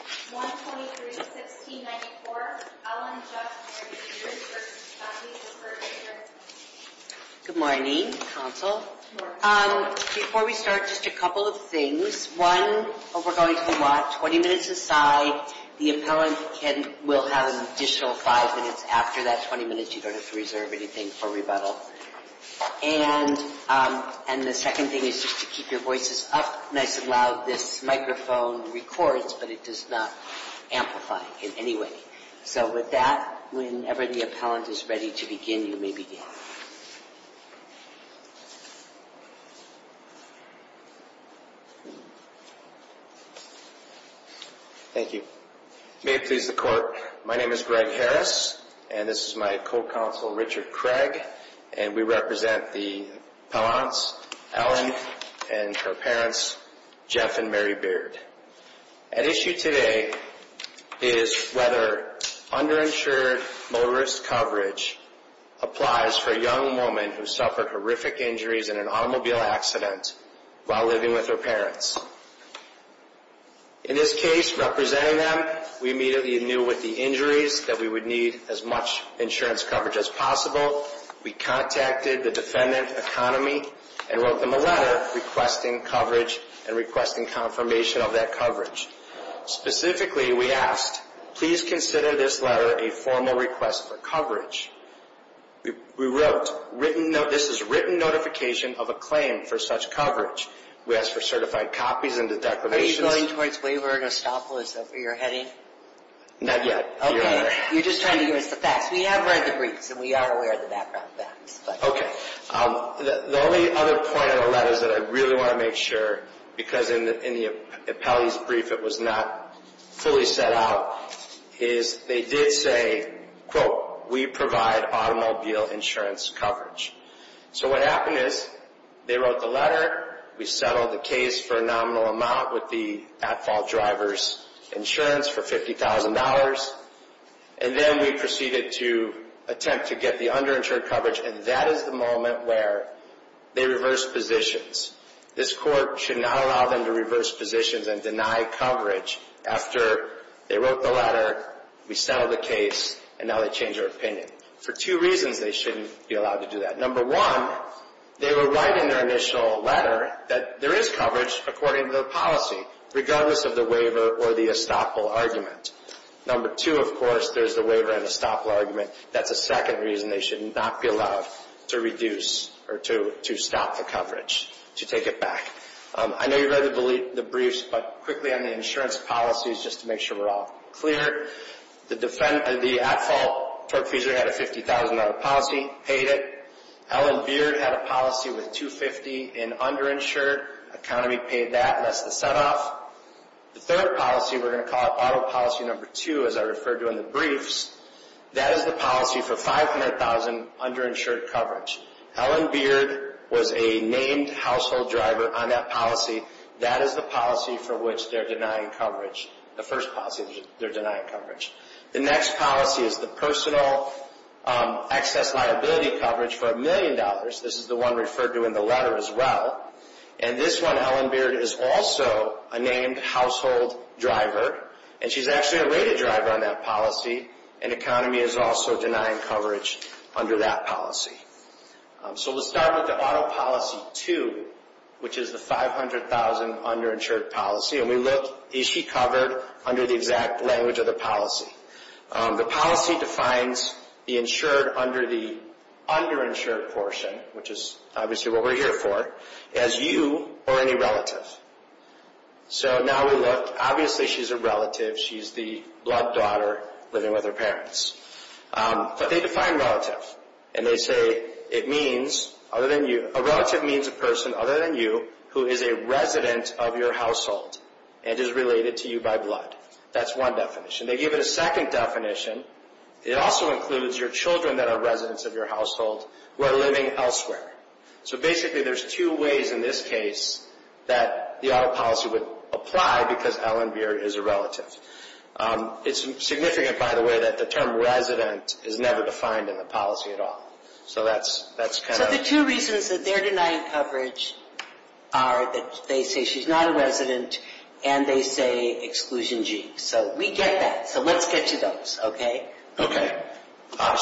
1-23-16-94, Ellen Judt for the insurance company's disbursement hearing. Good morning, counsel. Good morning. Before we start, just a couple of things. One, we're going to watch. Twenty minutes aside, the appellant will have an additional five minutes. After that twenty minutes, you don't have to reserve anything for rebuttal. And the second thing is just to keep your voices up nice and loud. This microphone records, but it does not amplify in any way. So with that, whenever the appellant is ready to begin, you may begin. Thank you. May it please the court, my name is Greg Harris, and this is my co-counsel, Richard Craig. And we represent the appellants, Ellen and her parents, Jeff and Mary Beard. At issue today is whether underinsured motorist coverage applies for a young woman who suffered horrific injuries in an automobile accident while living with her parents. In this case, representing them, we immediately knew with the injuries that we would need as much insurance coverage as possible. We contacted the defendant, Economy, and wrote them a letter requesting coverage and requesting confirmation of that coverage. Specifically, we asked, please consider this letter a formal request for coverage. We wrote, this is written notification of a claim for such coverage. We asked for certified copies and the declarations. Are you going towards Waver and Estoppel? Is that where you're heading? Not yet. Okay. You're just trying to give us the facts. We have read the briefs and we are aware of the background facts. Okay. The only other point in the letter that I really want to make sure, because in the appellee's brief it was not fully set out, is they did say, quote, we provide automobile insurance coverage. So what happened is they wrote the letter, we settled the case for a nominal amount with the at-fault driver's insurance for $50,000, and then we proceeded to attempt to get the underinsured coverage, and that is the moment where they reversed positions. This court should not allow them to reverse positions and deny coverage after they wrote the letter, we settled the case, and now they change their opinion. For two reasons they shouldn't be allowed to do that. Number one, they were right in their initial letter that there is coverage according to the policy, regardless of the waiver or the estoppel argument. Number two, of course, there's the waiver and estoppel argument. That's a second reason they should not be allowed to reduce or to stop the coverage, to take it back. I know you read the briefs, but quickly on the insurance policies, just to make sure we're all clear. The at-fault torque-feasor had a $50,000 policy, paid it. Ellen Beard had a policy with $250,000 in underinsured. Economy paid that, and that's the set-off. The third policy, we're going to call it auto policy number two, as I referred to in the briefs. That is the policy for $500,000 underinsured coverage. Ellen Beard was a named household driver on that policy. That is the policy for which they're denying coverage, the first policy they're denying coverage. The next policy is the personal excess liability coverage for $1 million. This is the one referred to in the letter as well. And this one, Ellen Beard is also a named household driver, and she's actually a rated driver on that policy, and Economy is also denying coverage under that policy. So let's start with the auto policy two, which is the $500,000 underinsured policy. And we look, is she covered under the exact language of the policy? The policy defines the insured under the underinsured portion, which is obviously what we're here for, as you or any relative. So now we look, obviously she's a relative. She's the blood daughter living with her parents. But they define relative, and they say it means other than you. who is a resident of your household and is related to you by blood. That's one definition. They give it a second definition. It also includes your children that are residents of your household who are living elsewhere. So basically there's two ways in this case that the auto policy would apply because Ellen Beard is a relative. It's significant, by the way, that the term resident is never defined in the policy at all. So the two reasons that they're denying coverage are that they say she's not a resident and they say exclusion G. So we get that. So let's get to those, okay? Okay.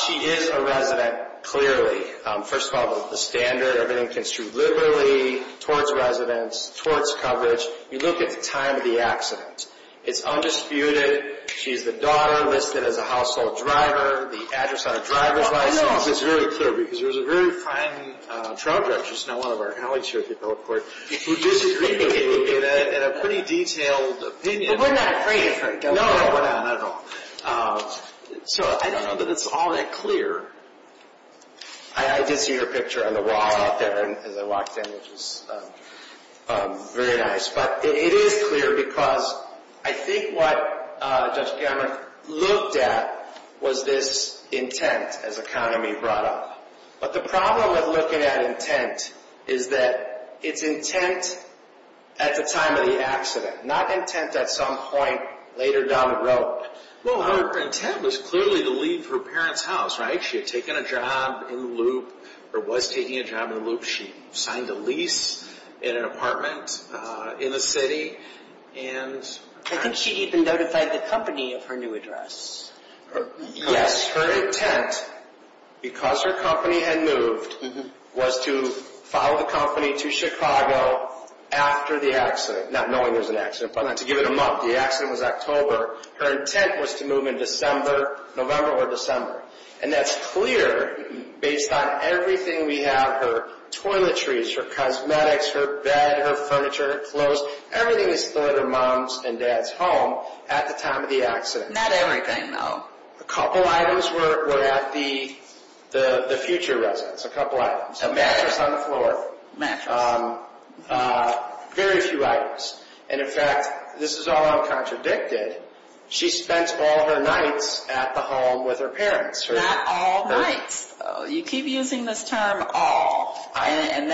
She is a resident, clearly. First of all, the standard, everything construed liberally towards residents, towards coverage. You look at the time of the accident. It's undisputed. She's the daughter listed as a household driver. The address on a driver's license. It's very clear because there's a very fine trial judge, who's now one of our colleagues here at the appellate court, who disagreed with me in a pretty detailed opinion. But we're not afraid of her. No, we're not at all. So I don't know that it's all that clear. I did see her picture on the wall out there as I walked in, which was very nice. But it is clear because I think what Judge Gamert looked at was this intent, as economy brought up. But the problem with looking at intent is that it's intent at the time of the accident, not intent at some point later down the road. Well, her intent was clearly to leave her parents' house, right? She had taken a job in the loop, or was taking a job in the loop. She signed a lease in an apartment in the city. I think she even notified the company of her new address. Yes, her intent, because her company had moved, was to follow the company to Chicago after the accident. Not knowing there was an accident, but to give it a month. The accident was October. Her intent was to move in November or December. And that's clear based on everything we have. Her toiletries, her cosmetics, her bed, her furniture, clothes, everything was to go to her mom's and dad's home at the time of the accident. Not everything, though. A couple items were at the future residence, a couple items. A mattress. A mattress on the floor. Mattress. Very few items. And, in fact, this is all uncontradicted. She spent all her nights at the home with her parents. Not all nights, though. You keep using this term, all, and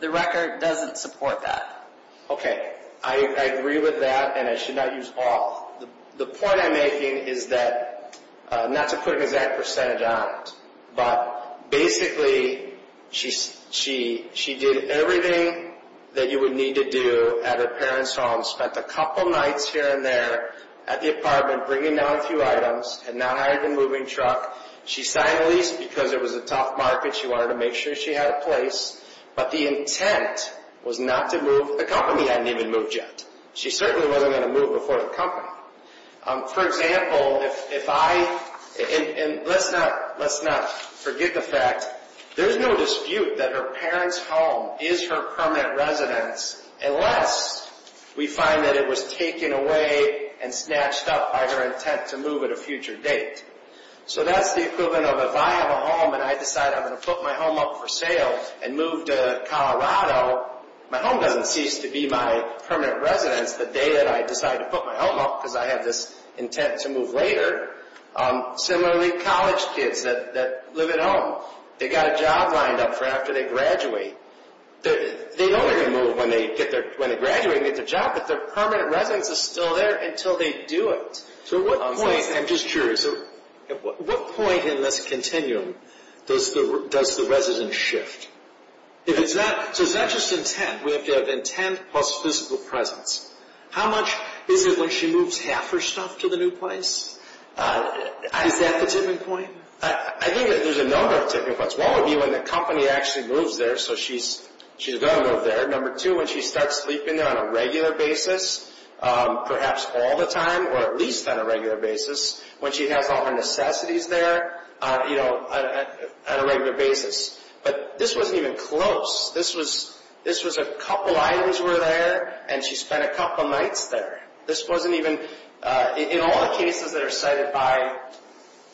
the record doesn't support that. Okay. I agree with that, and I should not use all. The point I'm making is that, not to put an exact percentage on it, but basically she did everything that you would need to do at her parents' home, spent a couple nights here and there at the apartment bringing down a few items, had not hired a moving truck. She signed a lease because it was a tough market. She wanted to make sure she had a place. But the intent was not to move. The company hadn't even moved yet. She certainly wasn't going to move before the company. For example, if I – and let's not forget the fact, there's no dispute that her parents' home is her permanent residence unless we find that it was taken away and snatched up by her intent to move at a future date. So that's the equivalent of if I have a home and I decide I'm going to put my home up for sale and move to Colorado, my home doesn't cease to be my permanent residence the day that I decide to put my home up because I have this intent to move later. Similarly, college kids that live at home, they've got a job lined up for after they graduate. They know they're going to move when they graduate and get their job, but their permanent residence is still there until they do it. So at what point – I'm just curious. At what point in this continuum does the residence shift? So is that just intent? We have to have intent plus physical presence. How much is it when she moves half her stuff to the new place? Is that the tipping point? I think that there's a number of tipping points. One would be when the company actually moves there, so she's going to move there. Number two, when she starts sleeping there on a regular basis, perhaps all the time, or at least on a regular basis, when she has all her necessities there on a regular basis. But this wasn't even close. This was a couple items were there, and she spent a couple nights there. This wasn't even – in all the cases that are cited by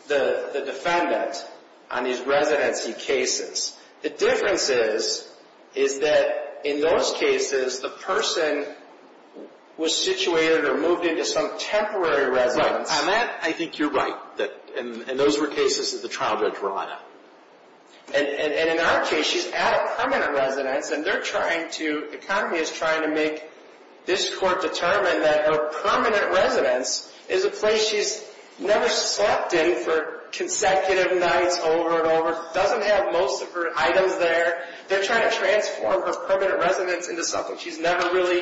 the defendant on these residency cases, the difference is that in those cases, the person was situated or moved into some temporary residence. Right. On that, I think you're right. And those were cases that the trial judge brought up. And in our case, she's at a permanent residence, and they're trying to – her permanent residence is a place she's never slept in for consecutive nights over and over, doesn't have most of her items there. They're trying to transform her permanent residence into something she's never really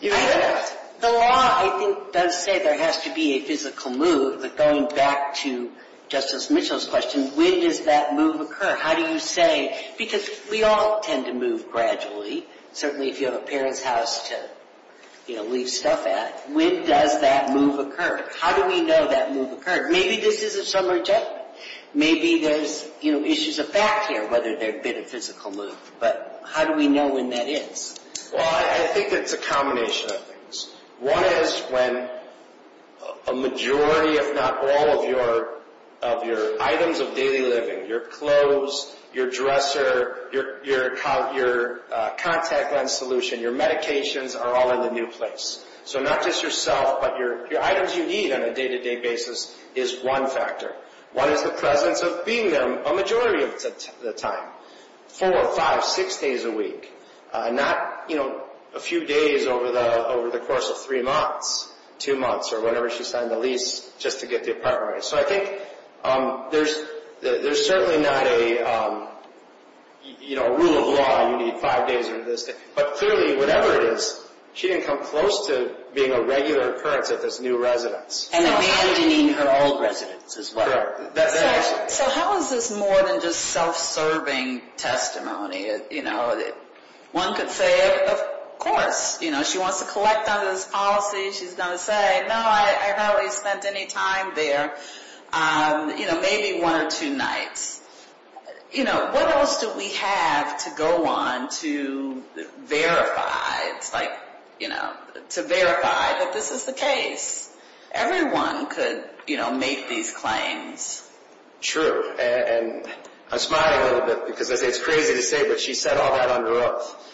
used. The law, I think, does say there has to be a physical move, but going back to Justice Mitchell's question, when does that move occur? How do you say – because we all tend to move gradually. Certainly if you have a parent's house to leave stuff at. When does that move occur? How do we know that move occurred? Maybe this is a summary judgment. Maybe there's issues of fact here, whether there'd been a physical move. But how do we know when that is? Well, I think it's a combination of things. One is when a majority, if not all, of your items of daily living, your clothes, your dresser, your contact lens solution, your medications, are all in the new place. So not just yourself, but your items you need on a day-to-day basis is one factor. One is the presence of being there a majority of the time, four, five, six days a week, not a few days over the course of three months, two months, or whenever she signed the lease, just to get the apartment ready. So I think there's certainly not a rule of law. You need five days or this day. But clearly, whatever it is, she didn't come close to being a regular occurrence at this new residence. And abandoning her old residence as well. Correct. So how is this more than just self-serving testimony? One could say, of course. She wants to collect on this policy. She's going to say, no, I haven't really spent any time there, maybe one or two nights. What else do we have to go on to verify that this is the case? Everyone could make these claims. True. And I'm smiling a little bit because it's crazy to say, but she said all that on the roof.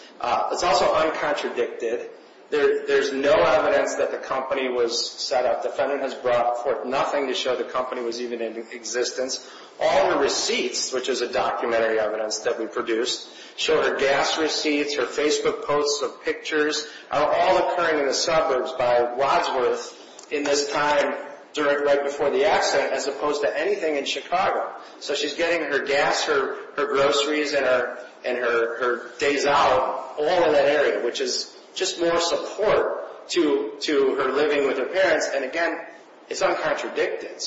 It's also uncontradicted. There's no evidence that the company was set up. The defendant has brought forth nothing to show the company was even in existence. All her receipts, which is a documentary evidence that we produced, show her gas receipts, her Facebook posts of pictures, are all occurring in the suburbs by Wadsworth in this time right before the accident, as opposed to anything in Chicago. So she's getting her gas, her groceries, and her days out all in that area, which is just more support to her living with her parents. And, again, it's uncontradicted.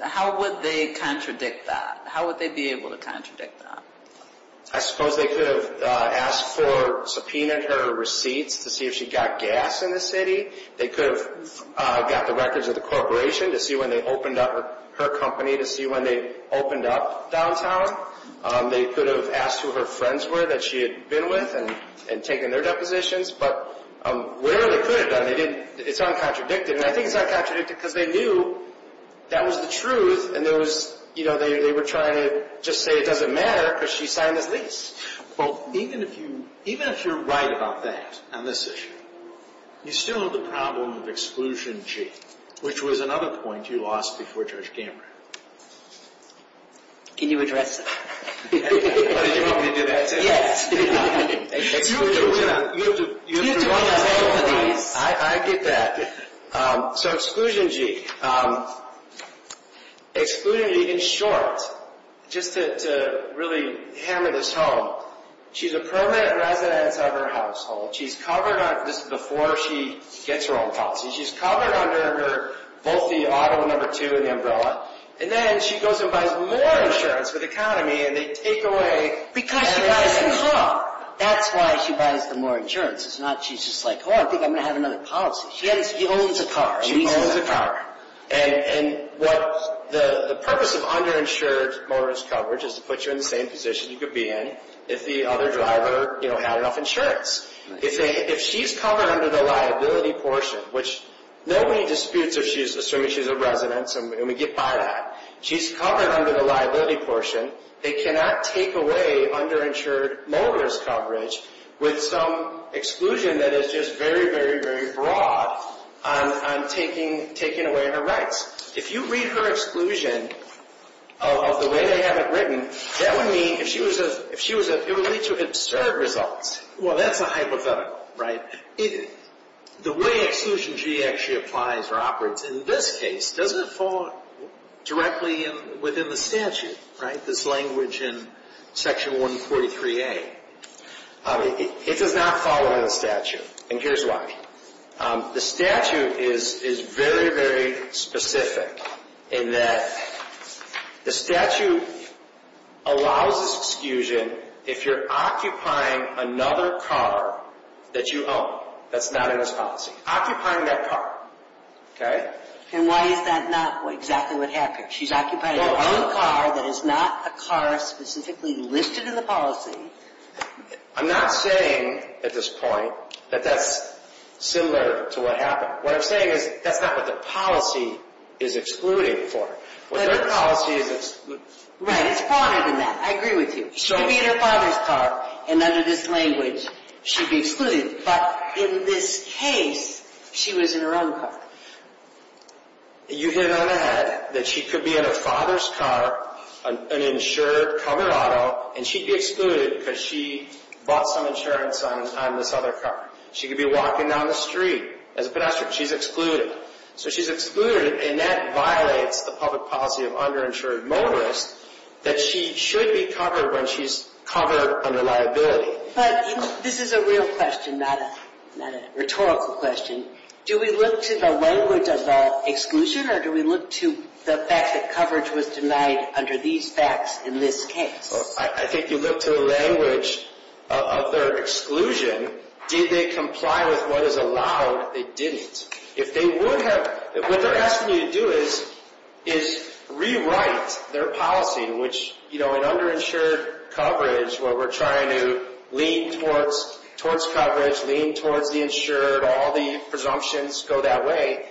How would they contradict that? How would they be able to contradict that? I suppose they could have asked for subpoenaed her receipts to see if she got gas in the city. They could have got the records of the corporation to see when they opened up her company, to see when they opened up downtown. They could have asked who her friends were that she had been with and taken their depositions. But wherever they could have done it, it's uncontradicted. And I think it's uncontradicted because they knew that was the truth, and they were trying to just say it doesn't matter because she signed this lease. Well, even if you're right about that on this issue, you still have the problem of exclusion G, which was another point you lost before Judge Gambra. Can you address that? What, did you want me to do that too? Yes. Exclusion G. You have to run the show for these. I get that. So exclusion G. Exclusion G in short, just to really hammer this home, she's a permanent resident of her household. She's covered on this before she gets her own policy. She's covered under both the auto number two and the umbrella. And then she goes and buys more insurance for the economy, and they take away. Because she buys the car. That's why she buys the more insurance. It's not she's just like, oh, I think I'm going to have another policy. She owns a car. She owns a car. And the purpose of underinsured motorist coverage is to put you in the same position you could be in if the other driver had enough insurance. If she's covered under the liability portion, which nobody disputes if she's assuming she's a resident. And we get by that. She's covered under the liability portion. They cannot take away underinsured motorist coverage with some exclusion that is just very, very, very broad on taking away her rights. If you read her exclusion of the way they have it written, that would mean it would lead to absurd results. Well, that's a hypothetical, right? The way exclusion G actually applies or operates in this case doesn't fall directly within the statute, right? This language in Section 143A. It does not fall under the statute, and here's why. The statute is very, very specific in that the statute allows this exclusion if you're occupying another car that you own that's not in this policy. Occupying that car, okay? And why is that not exactly what happened? She's occupying her own car that is not a car specifically listed in the policy. I'm not saying at this point that that's similar to what happened. What I'm saying is that's not what the policy is excluding for. What their policy is excluding. Right, it's broader than that. I agree with you. She could be in her father's car, and under this language, she'd be excluded. But in this case, she was in her own car. You hit on that, that she could be in her father's car, an insured Colorado, and she'd be excluded because she bought some insurance on this other car. She could be walking down the street as a pedestrian. She's excluded. So she's excluded, and that violates the public policy of underinsured motorists that she should be covered when she's covered under liability. But this is a real question, not a rhetorical question. Do we look to the language of the exclusion, or do we look to the fact that coverage was denied under these facts in this case? I think you look to the language of their exclusion. Did they comply with what is allowed? They didn't. What they're asking you to do is rewrite their policy, which in underinsured coverage where we're trying to lean towards coverage, lean towards the insured, all the presumptions go that way.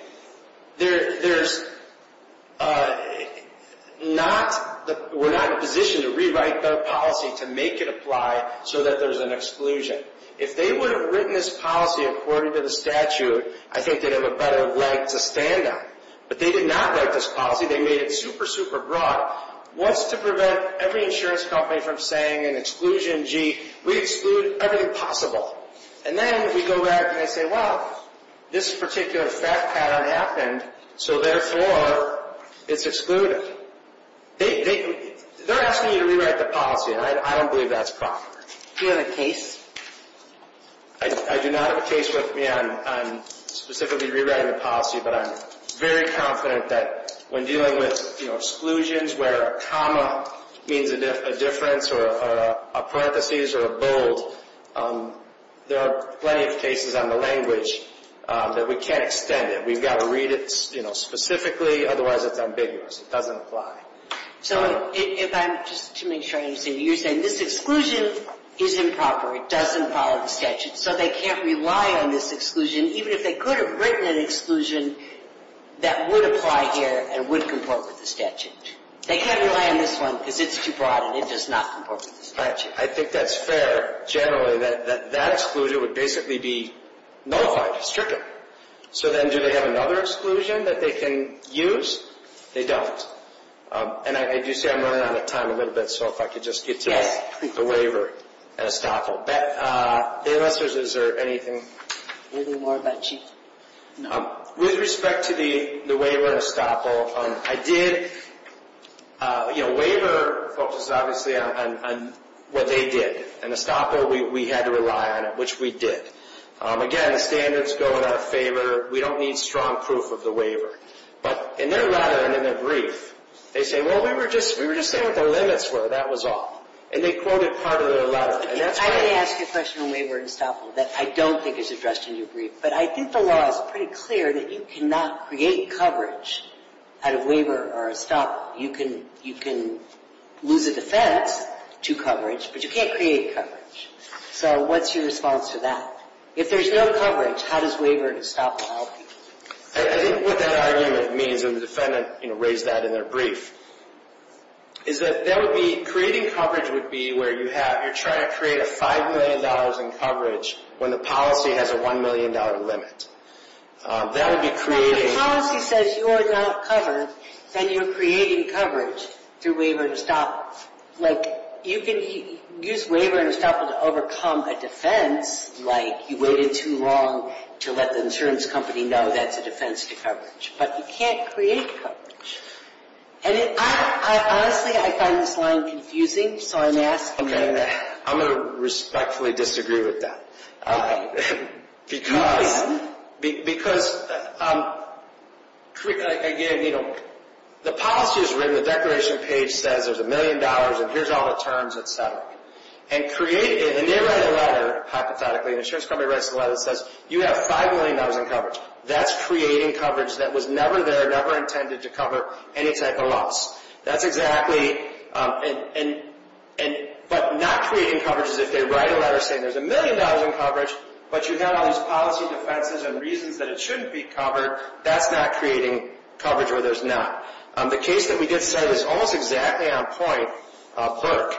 We're not in a position to rewrite their policy to make it apply so that there's an exclusion. If they would have written this policy according to the statute, I think they'd have a better leg to stand on. But they did not write this policy. They made it super, super broad. What's to prevent every insurance company from saying in exclusion, gee, we exclude everything possible? And then we go back and say, well, this particular fact pattern happened, so therefore it's excluded. They're asking you to rewrite the policy, and I don't believe that's proper. Do you have a case? I do not have a case with me on specifically rewriting the policy, but I'm very confident that when dealing with exclusions where a comma means a difference or a parenthesis or a bold, there are plenty of cases on the language that we can't extend it. We've got to read it specifically, otherwise it's ambiguous. It doesn't apply. So if I'm just to make sure I understand you, you're saying this exclusion is improper, it doesn't follow the statute, so they can't rely on this exclusion, even if they could have written an exclusion that would apply here and would comport with the statute. They can't rely on this one because it's too broad and it does not comport with the statute. I think that's fair, generally, that that exclusion would basically be nullified, stricter. So then do they have another exclusion that they can use? They don't. And I do see I'm running out of time a little bit, so if I could just get to the waiver and estoppel. Is there anything? Anything more about Chief? No. With respect to the waiver and estoppel, I did, you know, waiver focuses obviously on what they did. And estoppel, we had to rely on it, which we did. Again, the standards go in our favor. We don't need strong proof of the waiver. But in their letter and in their brief, they say, well, we were just saying what their limits were. That was all. And they quoted part of their letter. I'm going to ask you a question on waiver and estoppel that I don't think is addressed in your brief. But I think the law is pretty clear that you cannot create coverage out of waiver or estoppel. You can lose a defense to coverage, but you can't create coverage. So what's your response to that? If there's no coverage, how does waiver and estoppel help you? I think what that argument means, and the defendant, you know, raised that in their brief, is that that would be creating coverage would be where you're trying to create a $5 million in coverage when the policy has a $1 million limit. That would be creating. If the policy says you're not covered, then you're creating coverage through waiver and estoppel. Like, you can use waiver and estoppel to overcome a defense, like you waited too long to let the insurance company know that's a defense to coverage. But you can't create coverage. And, honestly, I find this line confusing, so I'm asking. I'm going to respectfully disagree with that. Okay. You can. Because, again, you know, the policy is written. The declaration page says there's $1 million, and here's all the terms, et cetera. And they write a letter, hypothetically, and the insurance company writes a letter that says, you have $5 million in coverage. That's creating coverage that was never there, never intended to cover any type of loss. That's exactly. But not creating coverage is if they write a letter saying there's $1 million in coverage, but you have all these policy defenses and reasons that it shouldn't be covered. That's not creating coverage where there's not. The case that we just said is almost exactly on point, Burke.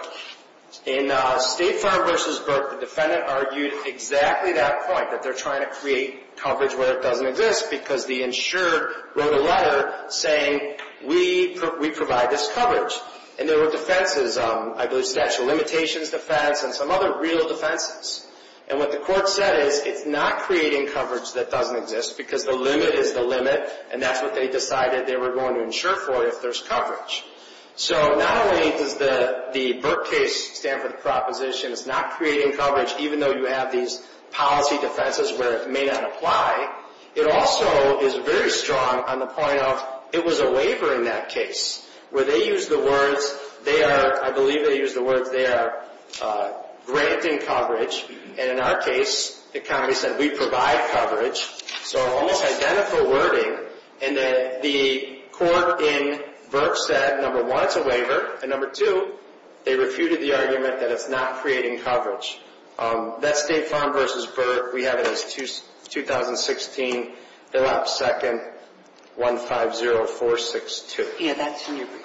In State Farm v. Burke, the defendant argued exactly that point, that they're trying to create coverage where it doesn't exist because the insured wrote a letter saying, we provide this coverage. And there were defenses, I believe statute of limitations defense and some other real defenses. And what the court said is it's not creating coverage that doesn't exist because the limit is the limit, and that's what they decided they were going to insure for if there's coverage. So not only does the Burke case stand for the proposition, it's not creating coverage, even though you have these policy defenses where it may not apply, it also is very strong on the point of, it was a waiver in that case, where they used the words, they are, I believe they used the words, they are granting coverage. And in our case, the county said, we provide coverage. So almost identical wording, and the court in Burke said, number one, it's a waiver, and number two, they refuted the argument that it's not creating coverage. That's State Farm v. Burke. We have it as 2016, the last second, 150462. Yeah, that's in your brief.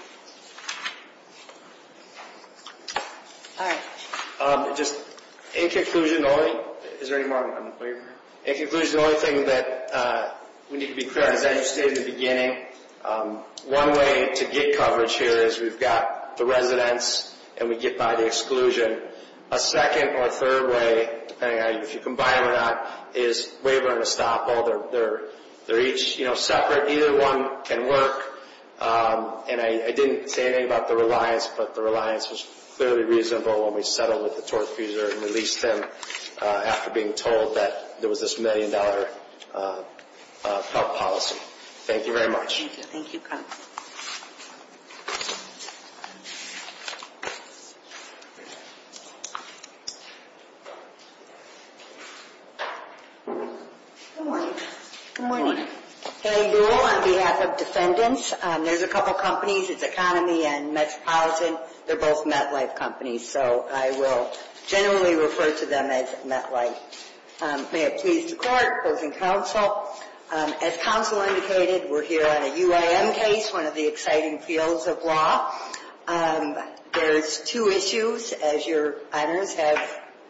All right. Just in conclusion only, is there any more on the waiver? In conclusion, the only thing that we need to be clear on, as you stated in the beginning, one way to get coverage here is we've got the residents and we get by the exclusion. A second or third way, depending on if you combine it or not, is waiver and estoppel. They're each separate. Either one can work, and I didn't say anything about the reliance, but the reliance was fairly reasonable when we settled with the tort accuser and released him after being told that there was this million-dollar felt policy. Thank you very much. Thank you. Thank you. Good morning. Good morning. Gary Buhl on behalf of Defendants. There's a couple companies, it's Economy and Metropolitan. They're both MetLife companies. So I will generally refer to them as MetLife. May it please the Court, both in counsel, as counsel indicated, we're here on a UIM case, one of the exciting fields of law. There's two issues, as your honors have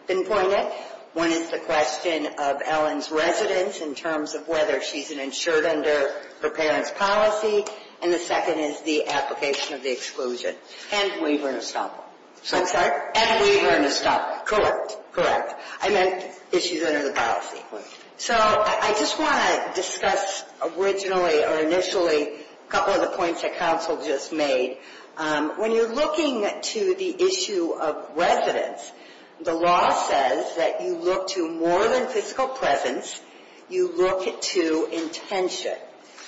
pinpointed. One is the question of Ellen's residence in terms of whether she's insured under her parents' policy, and the second is the application of the exclusion and waiver and estoppel. I'm sorry? And waiver and estoppel. Correct. Correct. I meant issues under the policy. So I just want to discuss originally or initially a couple of the points that counsel just made. When you're looking to the issue of residence, the law says that you look to more than physical presence, you look to intention.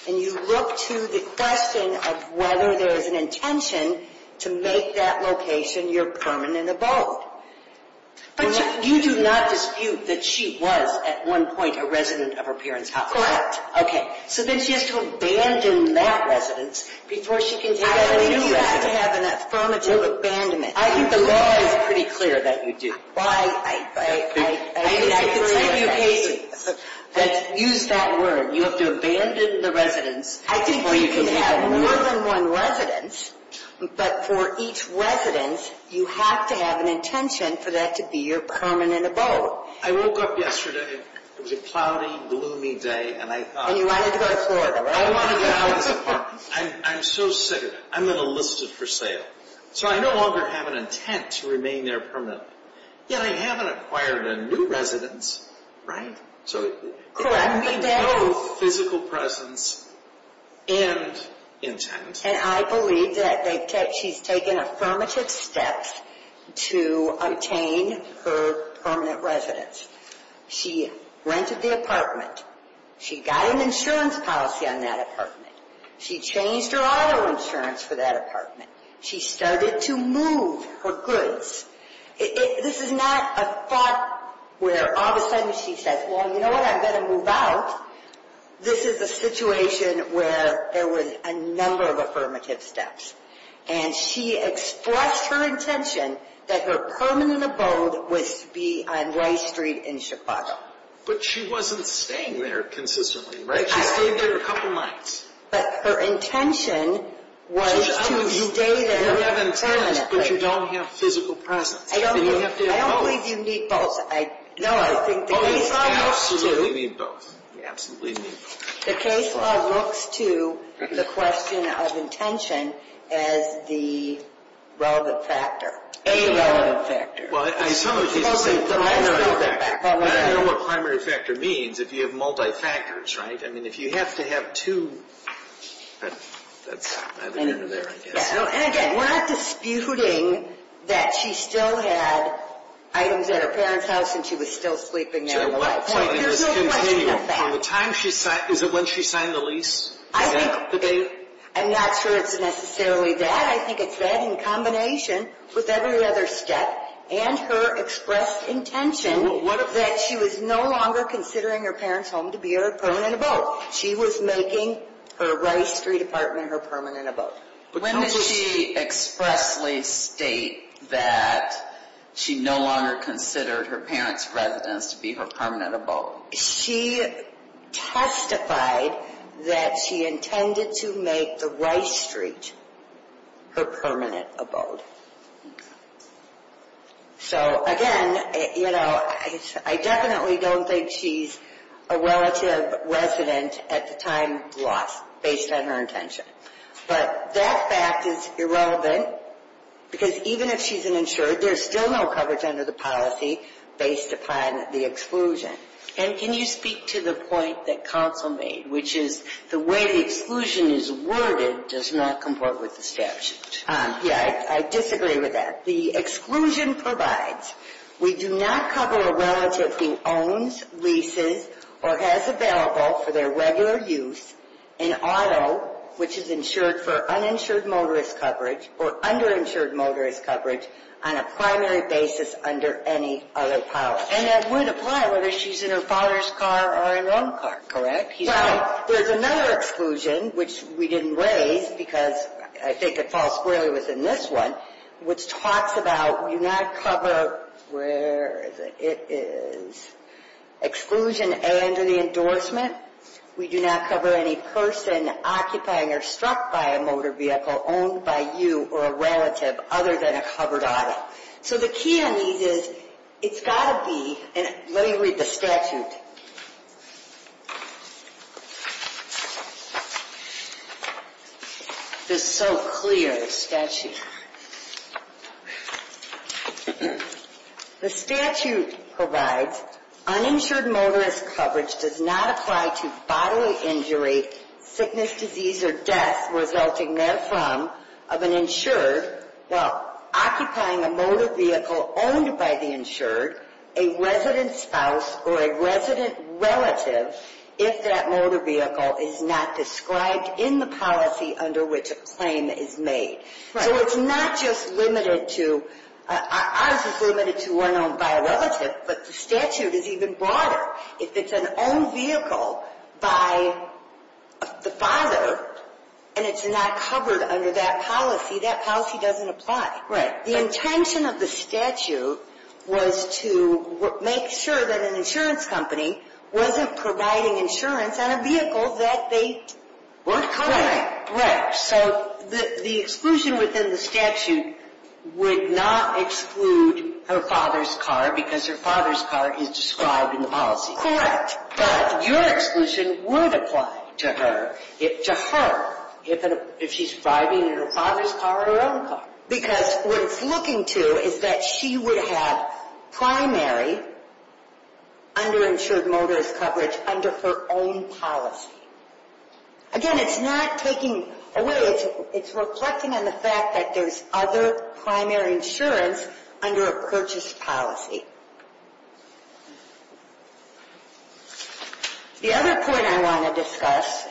And you look to the question of whether there is an intention to make that location your permanent abode. But you do not dispute that she was at one point a resident of her parents' house. Correct. Okay. So then she has to abandon that residence before she can take on a new residence. I believe you have to have an affirmative abandonment. I think the law is pretty clear that you do. Well, I disagree with that. Use that word. You have to abandon the residence before you can take on a new residence. I think you can have more than one residence, but for each residence, you have to have an intention for that to be your permanent abode. I woke up yesterday. It was a cloudy, gloomy day, and I thought. And you wanted to go to Florida, right? I wanted to go to this apartment. I'm so sick of it. I'm going to list it for sale. So I no longer have an intent to remain there permanently. Yet I haven't acquired a new residence, right? Correct me, Dave. So there's no physical presence and intent. And I believe that she's taken affirmative steps to obtain her permanent residence. She rented the apartment. She got an insurance policy on that apartment. She changed her auto insurance for that apartment. She started to move her goods. This is not a thought where all of a sudden she says, Well, you know what? I'm going to move out. This is a situation where there was a number of affirmative steps. And she expressed her intention that her permanent abode would be on Y Street in Chicago. But she wasn't staying there consistently, right? She stayed there a couple nights. But her intention was to stay there permanently. You have intent, but you don't have physical presence. You have to have both. I don't believe you need both. No, I think the case law looks to the question of intention as the relevant factor. A relevant factor. I don't know what primary factor means if you have multi-factors, right? I mean, if you have to have two. That's neither here nor there, I guess. And again, we're not disputing that she still had items at her parents' house and she was still sleeping there. There's no question of that. Is it when she signed the lease? I'm not sure it's necessarily that. I think it's that in combination with every other step. And her expressed intention that she was no longer considering her parents' home to be her permanent abode. She was making her Y Street apartment her permanent abode. When did she expressly state that she no longer considered her parents' residence to be her permanent abode? She testified that she intended to make the Y Street her permanent abode. Okay. So, again, you know, I definitely don't think she's a relative resident at the time of the loss based on her intention. But that fact is irrelevant because even if she's an insured, there's still no coverage under the policy based upon the exclusion. And can you speak to the point that counsel made, which is the way the exclusion is worded does not comport with the statute? Yeah, I disagree with that. The exclusion provides we do not cover a relative who owns, leases, or has available for their regular use an auto, which is insured for uninsured motorist coverage or underinsured motorist coverage on a primary basis under any other policy. And that would apply whether she's in her father's car or in one car, correct? Well, there's another exclusion, which we didn't raise because I think it falls squarely within this one, which talks about we do not cover, where is it? It is exclusion under the endorsement. We do not cover any person occupying or struck by a motor vehicle owned by you or a relative other than a covered auto. So the key on these is it's got to be, and let me read the statute. Okay. This is so clear, the statute. The statute provides uninsured motorist coverage does not apply to bodily injury, sickness, disease, or death resulting therefrom of an insured while occupying a motor vehicle owned by the insured, a resident spouse, or a resident relative, if that motor vehicle is not described in the policy under which a claim is made. So it's not just limited to, ours is limited to one owned by a relative, but the statute is even broader. If it's an owned vehicle by the father and it's not covered under that policy, that policy doesn't apply. The intention of the statute was to make sure that an insurance company wasn't providing insurance on a vehicle that they weren't covering. Right. Right. So the exclusion within the statute would not exclude her father's car because her father's car is described in the policy. Correct. But your exclusion would apply to her, to her, if she's driving her father's car or her own car. Because what it's looking to is that she would have primary underinsured motorist coverage under her own policy. Again, it's not taking away, it's reflecting on the fact that there's other primary insurance under a purchase policy. The other point I want to discuss,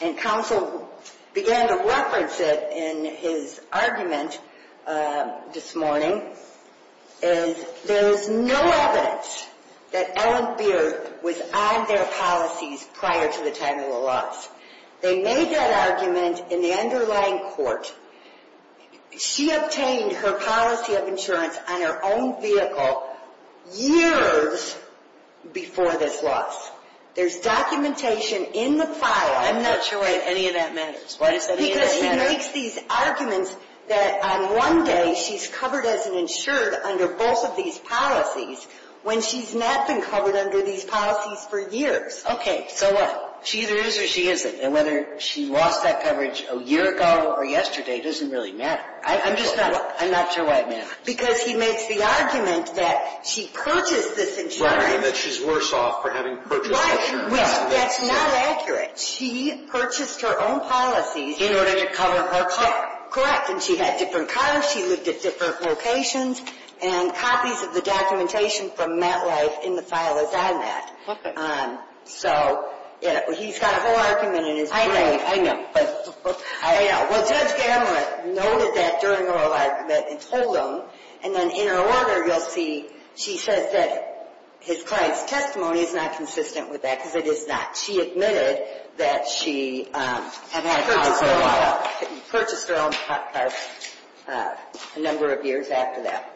and counsel began to reference it in his argument this morning, is there's no evidence that Ellen Beard was on their policies prior to the time of the loss. They made that argument in the underlying court. She obtained her policy of insurance on her own vehicle years before this loss. There's documentation in the file. I'm not sure why any of that matters. Because he makes these arguments that on one day she's covered as an insured under both of these policies when she's not been covered under these policies for years. Okay. So what? She either is or she isn't. And whether she lost that coverage a year ago or yesterday doesn't really matter. I'm just not, I'm not sure why it matters. Because he makes the argument that she purchased this insurance. Right. And that she's worse off for having purchased this insurance. Right. That's not accurate. She purchased her own policies. In order to cover her car. Correct. And she had different cars. She lived at different locations. And copies of the documentation from MetLife in the file is on that. Okay. So he's got a whole argument in his brain. I know. I know. Well, Judge Gammell noted that during her argument and told him. And then in her order you'll see she says that his client's testimony is not consistent with that because it is not. She admitted that she had purchased her own car a number of years after that.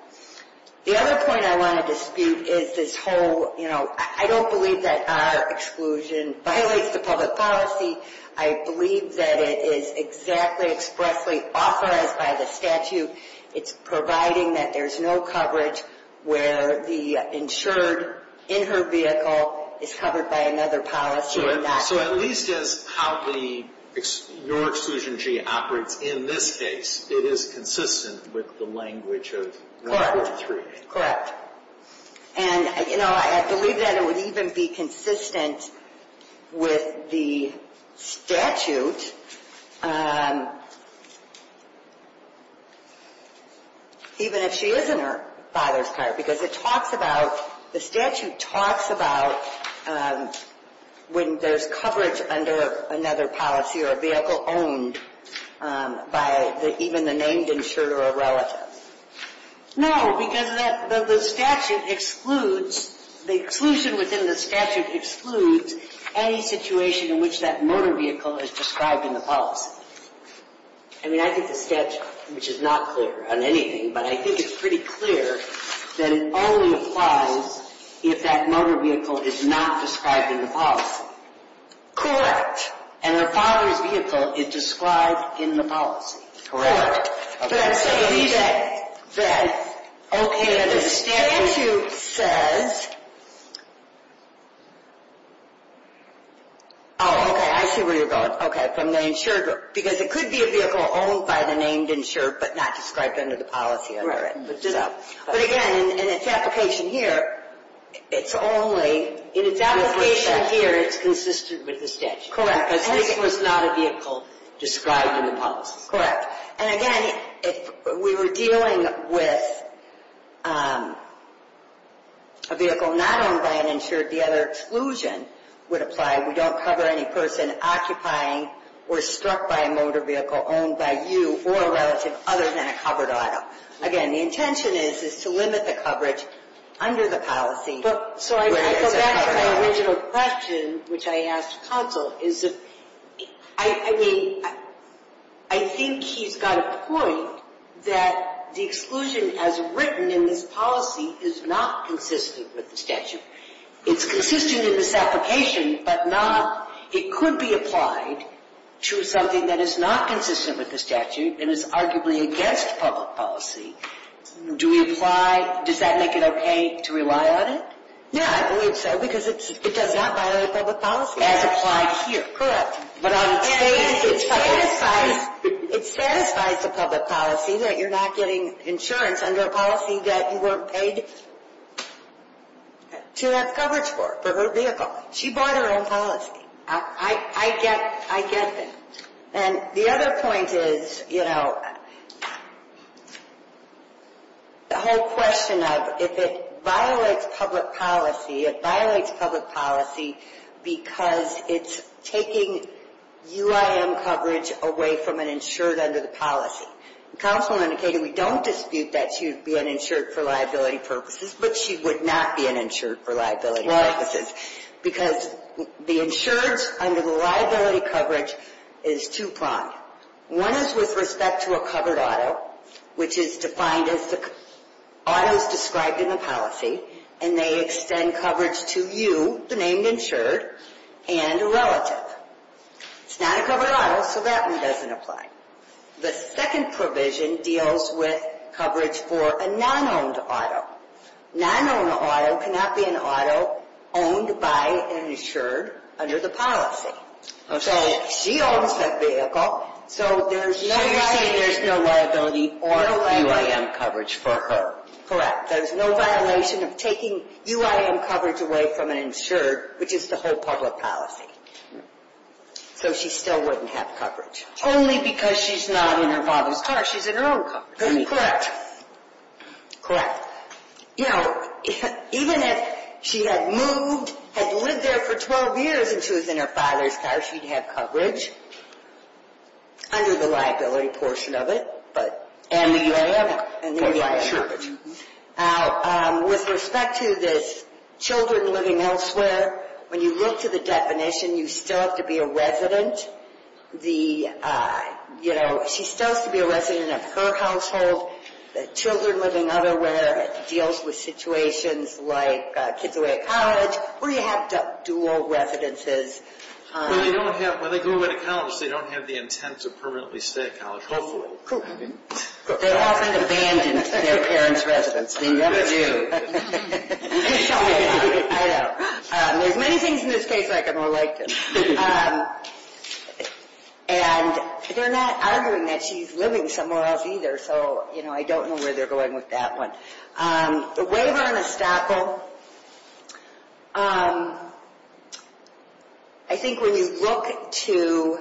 The other point I want to dispute is this whole, you know, I don't believe that our exclusion violates the public policy. I believe that it is exactly expressly authorized by the statute. It's providing that there's no coverage where the insured in her vehicle is covered by another policy. So at least it's how the, your Exclusion G operates in this case. It is consistent with the language of 143. Correct. And, you know, I believe that it would even be consistent with the statute even if she is in her father's car. Because it talks about, the statute talks about when there's coverage under another policy or a vehicle owned by even the named insurer or relative. No, because the statute excludes, the exclusion within the statute excludes any situation in which that motor vehicle is described in the policy. I mean, I think the statute, which is not clear on anything, but I think it's pretty clear that it only applies if that motor vehicle is not described in the policy. Correct. And her father's vehicle is described in the policy. Correct. But I believe that, okay, the statute says, oh, okay, I see where you're going. Okay. From the insured, because it could be a vehicle owned by the named insurer but not described under the policy. But again, in its application here, it's only. In its application here, it's consistent with the statute. Correct. Because this was not a vehicle described in the policy. Correct. And again, if we were dealing with a vehicle not owned by an insured, the other exclusion would apply. We don't cover any person occupying or struck by a motor vehicle owned by you or a relative other than a covered item. Again, the intention is to limit the coverage under the policy. So I go back to my original question, which I asked counsel, is that, I mean, I think he's got a point that the exclusion as written in this policy is not consistent with the statute. It's consistent in this application, but not, it could be applied to something that is not consistent with the statute and is arguably against public policy. Do we apply, does that make it okay to rely on it? Yeah, I believe so, because it does not violate public policy. As applied here. Correct. But on its face, it's public policy. It satisfies the public policy that you're not getting insurance under a policy that you weren't paid to have coverage for, for her vehicle. She bought her own policy. I get that. And the other point is, you know, the whole question of if it violates public policy, it violates public policy because it's taking UIM coverage away from an insured under the policy. Counsel indicated we don't dispute that she would be an insured for liability purposes, but she would not be an insured for liability purposes. Because the insured under the liability coverage is two-pronged. One is with respect to a covered auto, which is defined as the autos described in the policy, and they extend coverage to you, the named insured, and a relative. It's not a covered auto, so that one doesn't apply. The second provision deals with coverage for a non-owned auto. Non-owned auto cannot be an auto owned by an insured under the policy. So she owns that vehicle, so there's no liability or UIM coverage for her. Correct. There's no violation of taking UIM coverage away from an insured, which is the whole public policy. So she still wouldn't have coverage. Only because she's not in her father's car. She's in her own car. Correct. Correct. Now, you know, even if she had moved, had lived there for 12 years and she was in her father's car, she'd have coverage under the liability portion of it. And the UIM. And the UIM. Now, with respect to this children living elsewhere, when you look to the definition, you still have to be a resident. You know, she still has to be a resident of her household. Children living elsewhere deals with situations like kids away at college, where you have dual residences. When they go away to college, they don't have the intent to permanently stay at college, hopefully. They often abandon their parents' residence. They never do. I know. There's many things in this case I can relate to. And they're not arguing that she's living somewhere else either. So, you know, I don't know where they're going with that one. The waiver on estoppel, I think when you look to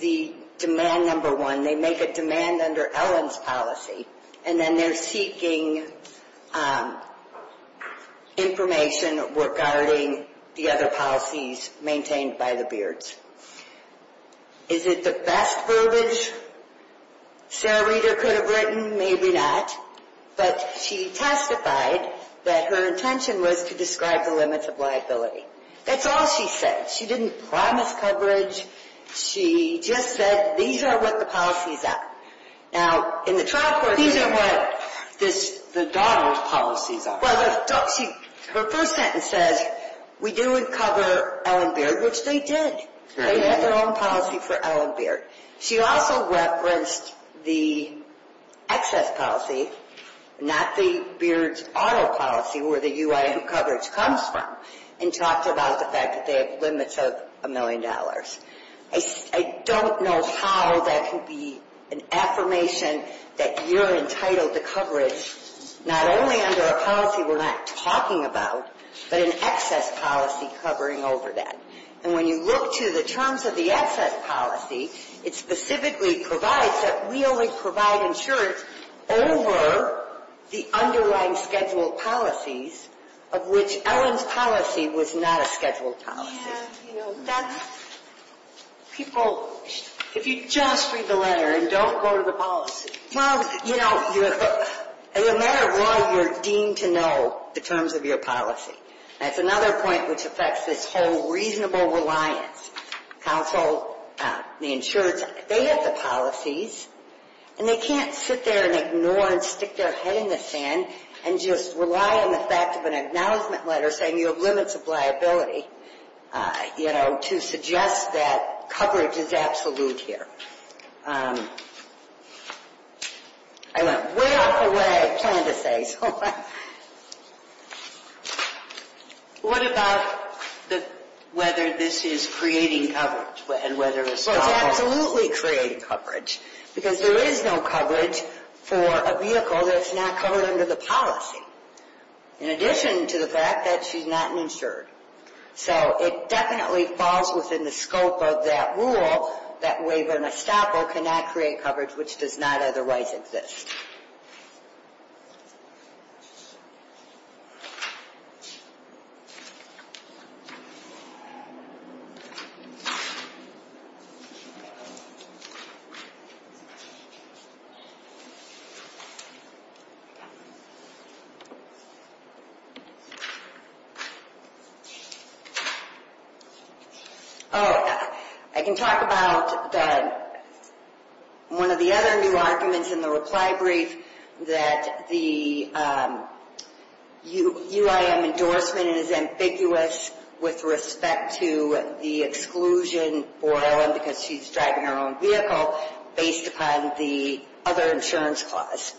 the demand number one, they make a demand under Ellen's policy. And then they're seeking information regarding the other policies maintained by the Beards. Is it the best verbiage Sarah Reeder could have written? Maybe not. But she testified that her intention was to describe the limits of liability. That's all she said. She didn't promise coverage. She just said these are what the policies are. These are what the Donald policies are. Her first sentence says, we do cover Ellen Beard, which they did. They had their own policy for Ellen Beard. She also referenced the excess policy, not the Beards auto policy, where the UI coverage comes from, and talked about the fact that they have limits of a million dollars. I don't know how that could be an affirmation that you're entitled to coverage, not only under a policy we're not talking about, but an excess policy covering over that. And when you look to the terms of the excess policy, it specifically provides that we only provide insurance over the underlying scheduled policies, of which Ellen's policy was not a scheduled policy. People, if you just read the letter and don't go to the policy. Well, you know, no matter what, you're deemed to know the terms of your policy. That's another point which affects this whole reasonable reliance. Counsel, the insurance, they have the policies, and they can't sit there and ignore and stick their head in the sand and just rely on the fact of an acknowledgement letter saying you have limits of liability. You know, to suggest that coverage is absolute here. I went way off the way I planned to say, so. What about whether this is creating coverage, and whether it's not? Well, it's absolutely creating coverage, because there is no coverage for a vehicle that's not covered under the policy. In addition to the fact that she's not insured. So, it definitely falls within the scope of that rule, that waiver and estoppel cannot create coverage which does not otherwise exist. Oh, I can talk about one of the other new arguments in the reply brief that the UIM endorsement is ambiguous with respect to the exclusion for Ellen because she's driving her own vehicle based upon the other insurance clause.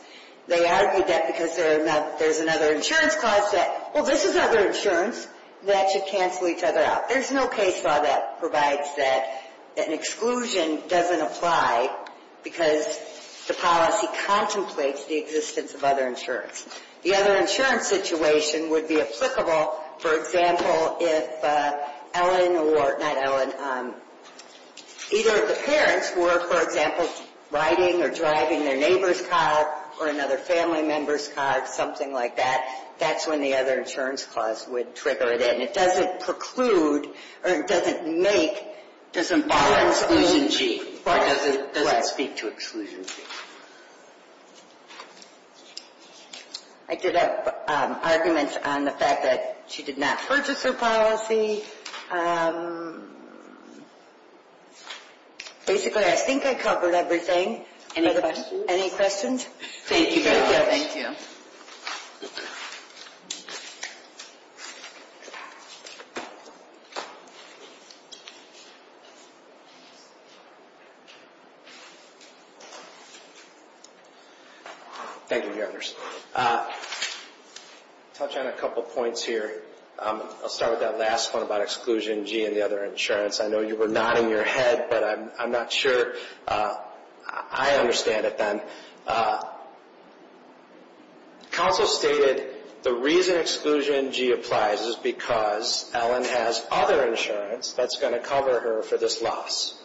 They argued that because there's another insurance clause that, well, this is other insurance, that should cancel each other out. There's no case law that provides that an exclusion doesn't apply because the policy contemplates the existence of other insurance. The other insurance situation would be applicable, for example, if Ellen or, not Ellen, either of the parents were, for example, riding or driving their neighbor's car or another family member's car, something like that. That's when the other insurance clause would trigger it in. It doesn't preclude, or it doesn't make. It doesn't bother exclusion G. It doesn't speak to exclusion G. I did have arguments on the fact that she did not purchase her policy. Basically, I think I covered everything. Any questions? Thank you very much. Thank you. Thank you. Thank you, Your Honors. Touch on a couple points here. I'll start with that last one about exclusion G and the other insurance. I know you were nodding your head, but I'm not sure I understand it then. Counsel stated the reason exclusion G applies is because Ellen has other insurance that's going to cover her for this loss.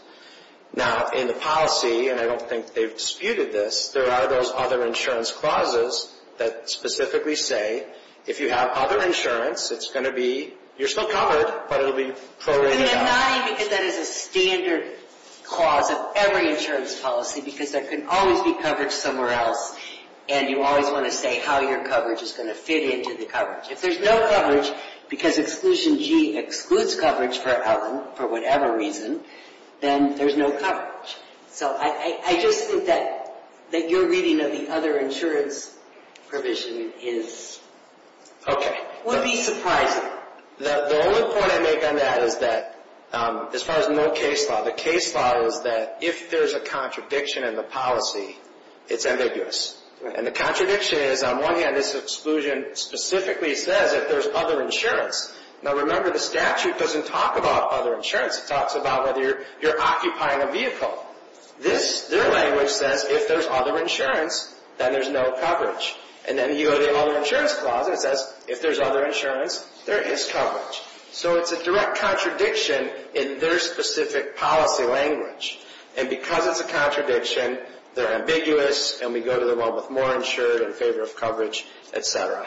Now, in the policy, and I don't think they've disputed this, there are those other insurance clauses that specifically say, if you have other insurance, it's going to be, you're still covered, but it will be prorated out. I'm nodding because that is a standard clause of every insurance policy, because there can always be coverage somewhere else, and you always want to say how your coverage is going to fit into the coverage. If there's no coverage, because exclusion G excludes coverage for Ellen, for whatever reason, then there's no coverage. I just think that your reading of the other insurance provision would be surprising. The only point I make on that is that, as far as no case law, the case law is that if there's a contradiction in the policy, it's ambiguous. The contradiction is, on one hand, this exclusion specifically says that there's other insurance. Now, remember, the statute doesn't talk about other insurance. It talks about whether you're occupying a vehicle. Their language says, if there's other insurance, then there's no coverage. Then you go to the other insurance clause, and it says, if there's other insurance, there is coverage. It's a direct contradiction in their specific policy language. Because it's a contradiction, they're ambiguous, and we go to the one with more insurance in favor of coverage, etc.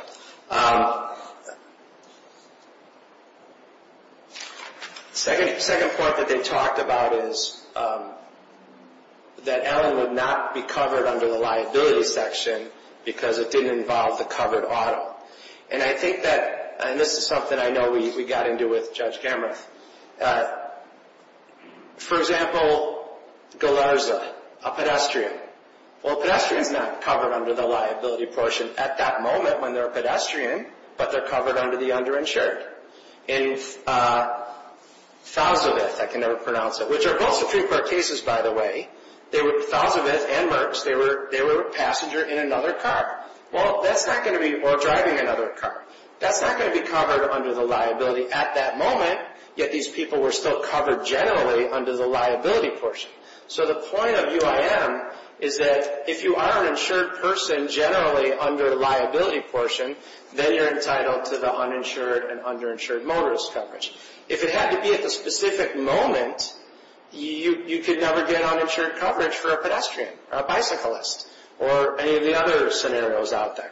The second point that they talked about is that Ellen would not be covered under the liability section because it didn't involve the covered auto. I think that, and this is something I know we got into with Judge Gammarth, for example, Galarza, a pedestrian. Well, a pedestrian's not covered under the liability portion at that moment when they're a pedestrian, but they're covered under the underinsured. In Thousandth, I can never pronounce it, which are both Supreme Court cases, by the way, Thousandth and Merckx, they were a passenger in another car, or driving another car. That's not going to be covered under the liability at that moment, yet these people were still covered generally under the liability portion. So the point of UIM is that if you are an insured person generally under the liability portion, then you're entitled to the uninsured and underinsured motorist coverage. If it had to be at the specific moment, you could never get uninsured coverage for a pedestrian, or a bicyclist, or any of the other scenarios out there.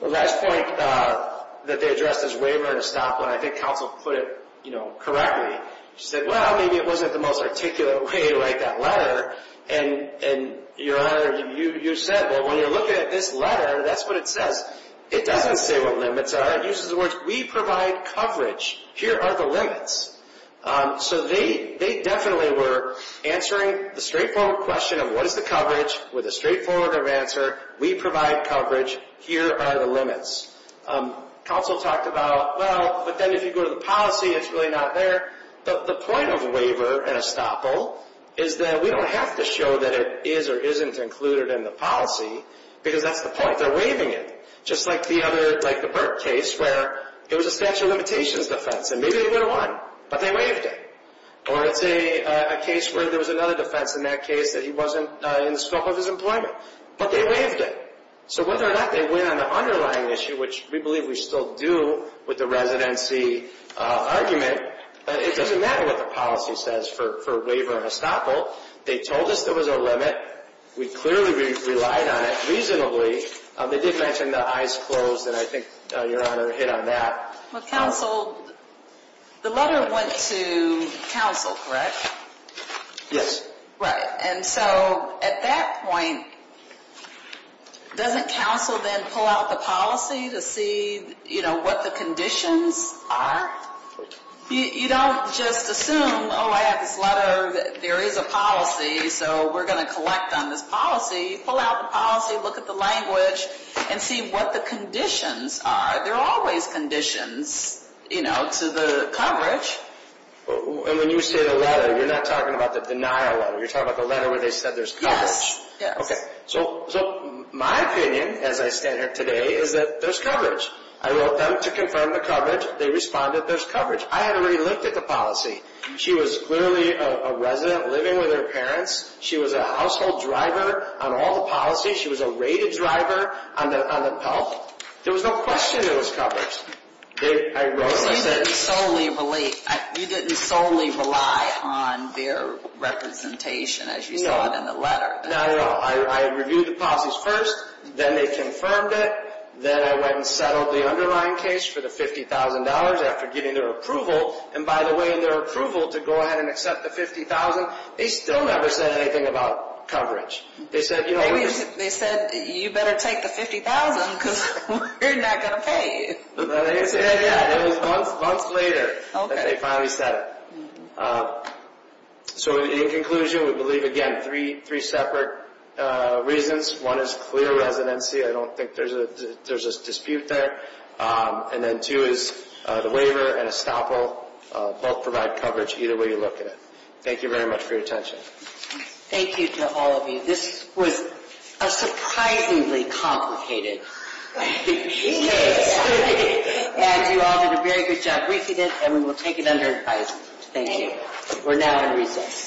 The last point that they addressed is waiver and estoppel, and I think counsel put it correctly. She said, well, maybe it wasn't the most articulate way to write that letter. And, Your Honor, you said, well, when you're looking at this letter, that's what it says. It doesn't say what limits are. It uses the words, we provide coverage. Here are the limits. So they definitely were answering the straightforward question of what is the coverage with a straightforward answer. We provide coverage. Here are the limits. Counsel talked about, well, but then if you go to the policy, it's really not there. But the point of waiver and estoppel is that we don't have to show that it is or isn't included in the policy, because that's the point. They're waiving it, just like the other, like the Burke case, where it was a statute of limitations defense, and maybe they would have won, but they waived it. Or let's say a case where there was another defense in that case that he wasn't in the scope of his employment, but they waived it. So whether or not they win on the underlying issue, which we believe we still do with the residency argument, it doesn't matter what the policy says for waiver and estoppel. They told us there was a limit. We clearly relied on it reasonably. They did mention the eyes closed, and I think, Your Honor, hit on that. Well, counsel, the letter went to counsel, correct? Yes. Right. And so at that point, doesn't counsel then pull out the policy to see, you know, what the conditions are? You don't just assume, oh, I have this letter, there is a policy, so we're going to collect on this policy. Pull out the policy, look at the language, and see what the conditions are. There are always conditions, you know, to the coverage. And when you say the letter, you're not talking about the denial letter. You're talking about the letter where they said there's coverage. Okay. So my opinion, as I stand here today, is that there's coverage. I wrote them to confirm the coverage. They responded there's coverage. I had already looked at the policy. She was clearly a resident living with her parents. She was a household driver on all the policies. She was a rated driver on the PELC. There was no question there was coverage. I wrote it. You didn't solely rely on their representation, as you saw in the letter. No, no, no. I reviewed the policies first. Then they confirmed it. Then I went and settled the underlying case for the $50,000 after getting their approval. And by the way, their approval to go ahead and accept the $50,000, they still never said anything about coverage. They said, you better take the $50,000 because we're not going to pay you. It was months later that they finally said it. So in conclusion, we believe, again, three separate reasons. One is clear residency. I don't think there's a dispute there. And then two is the waiver and estoppel both provide coverage either way you look at it. Thank you very much for your attention. Thank you to all of you. This was a surprisingly complicated case. And you all did a very good job briefing it, and we will take it under advice. Thank you. We're now going to recess.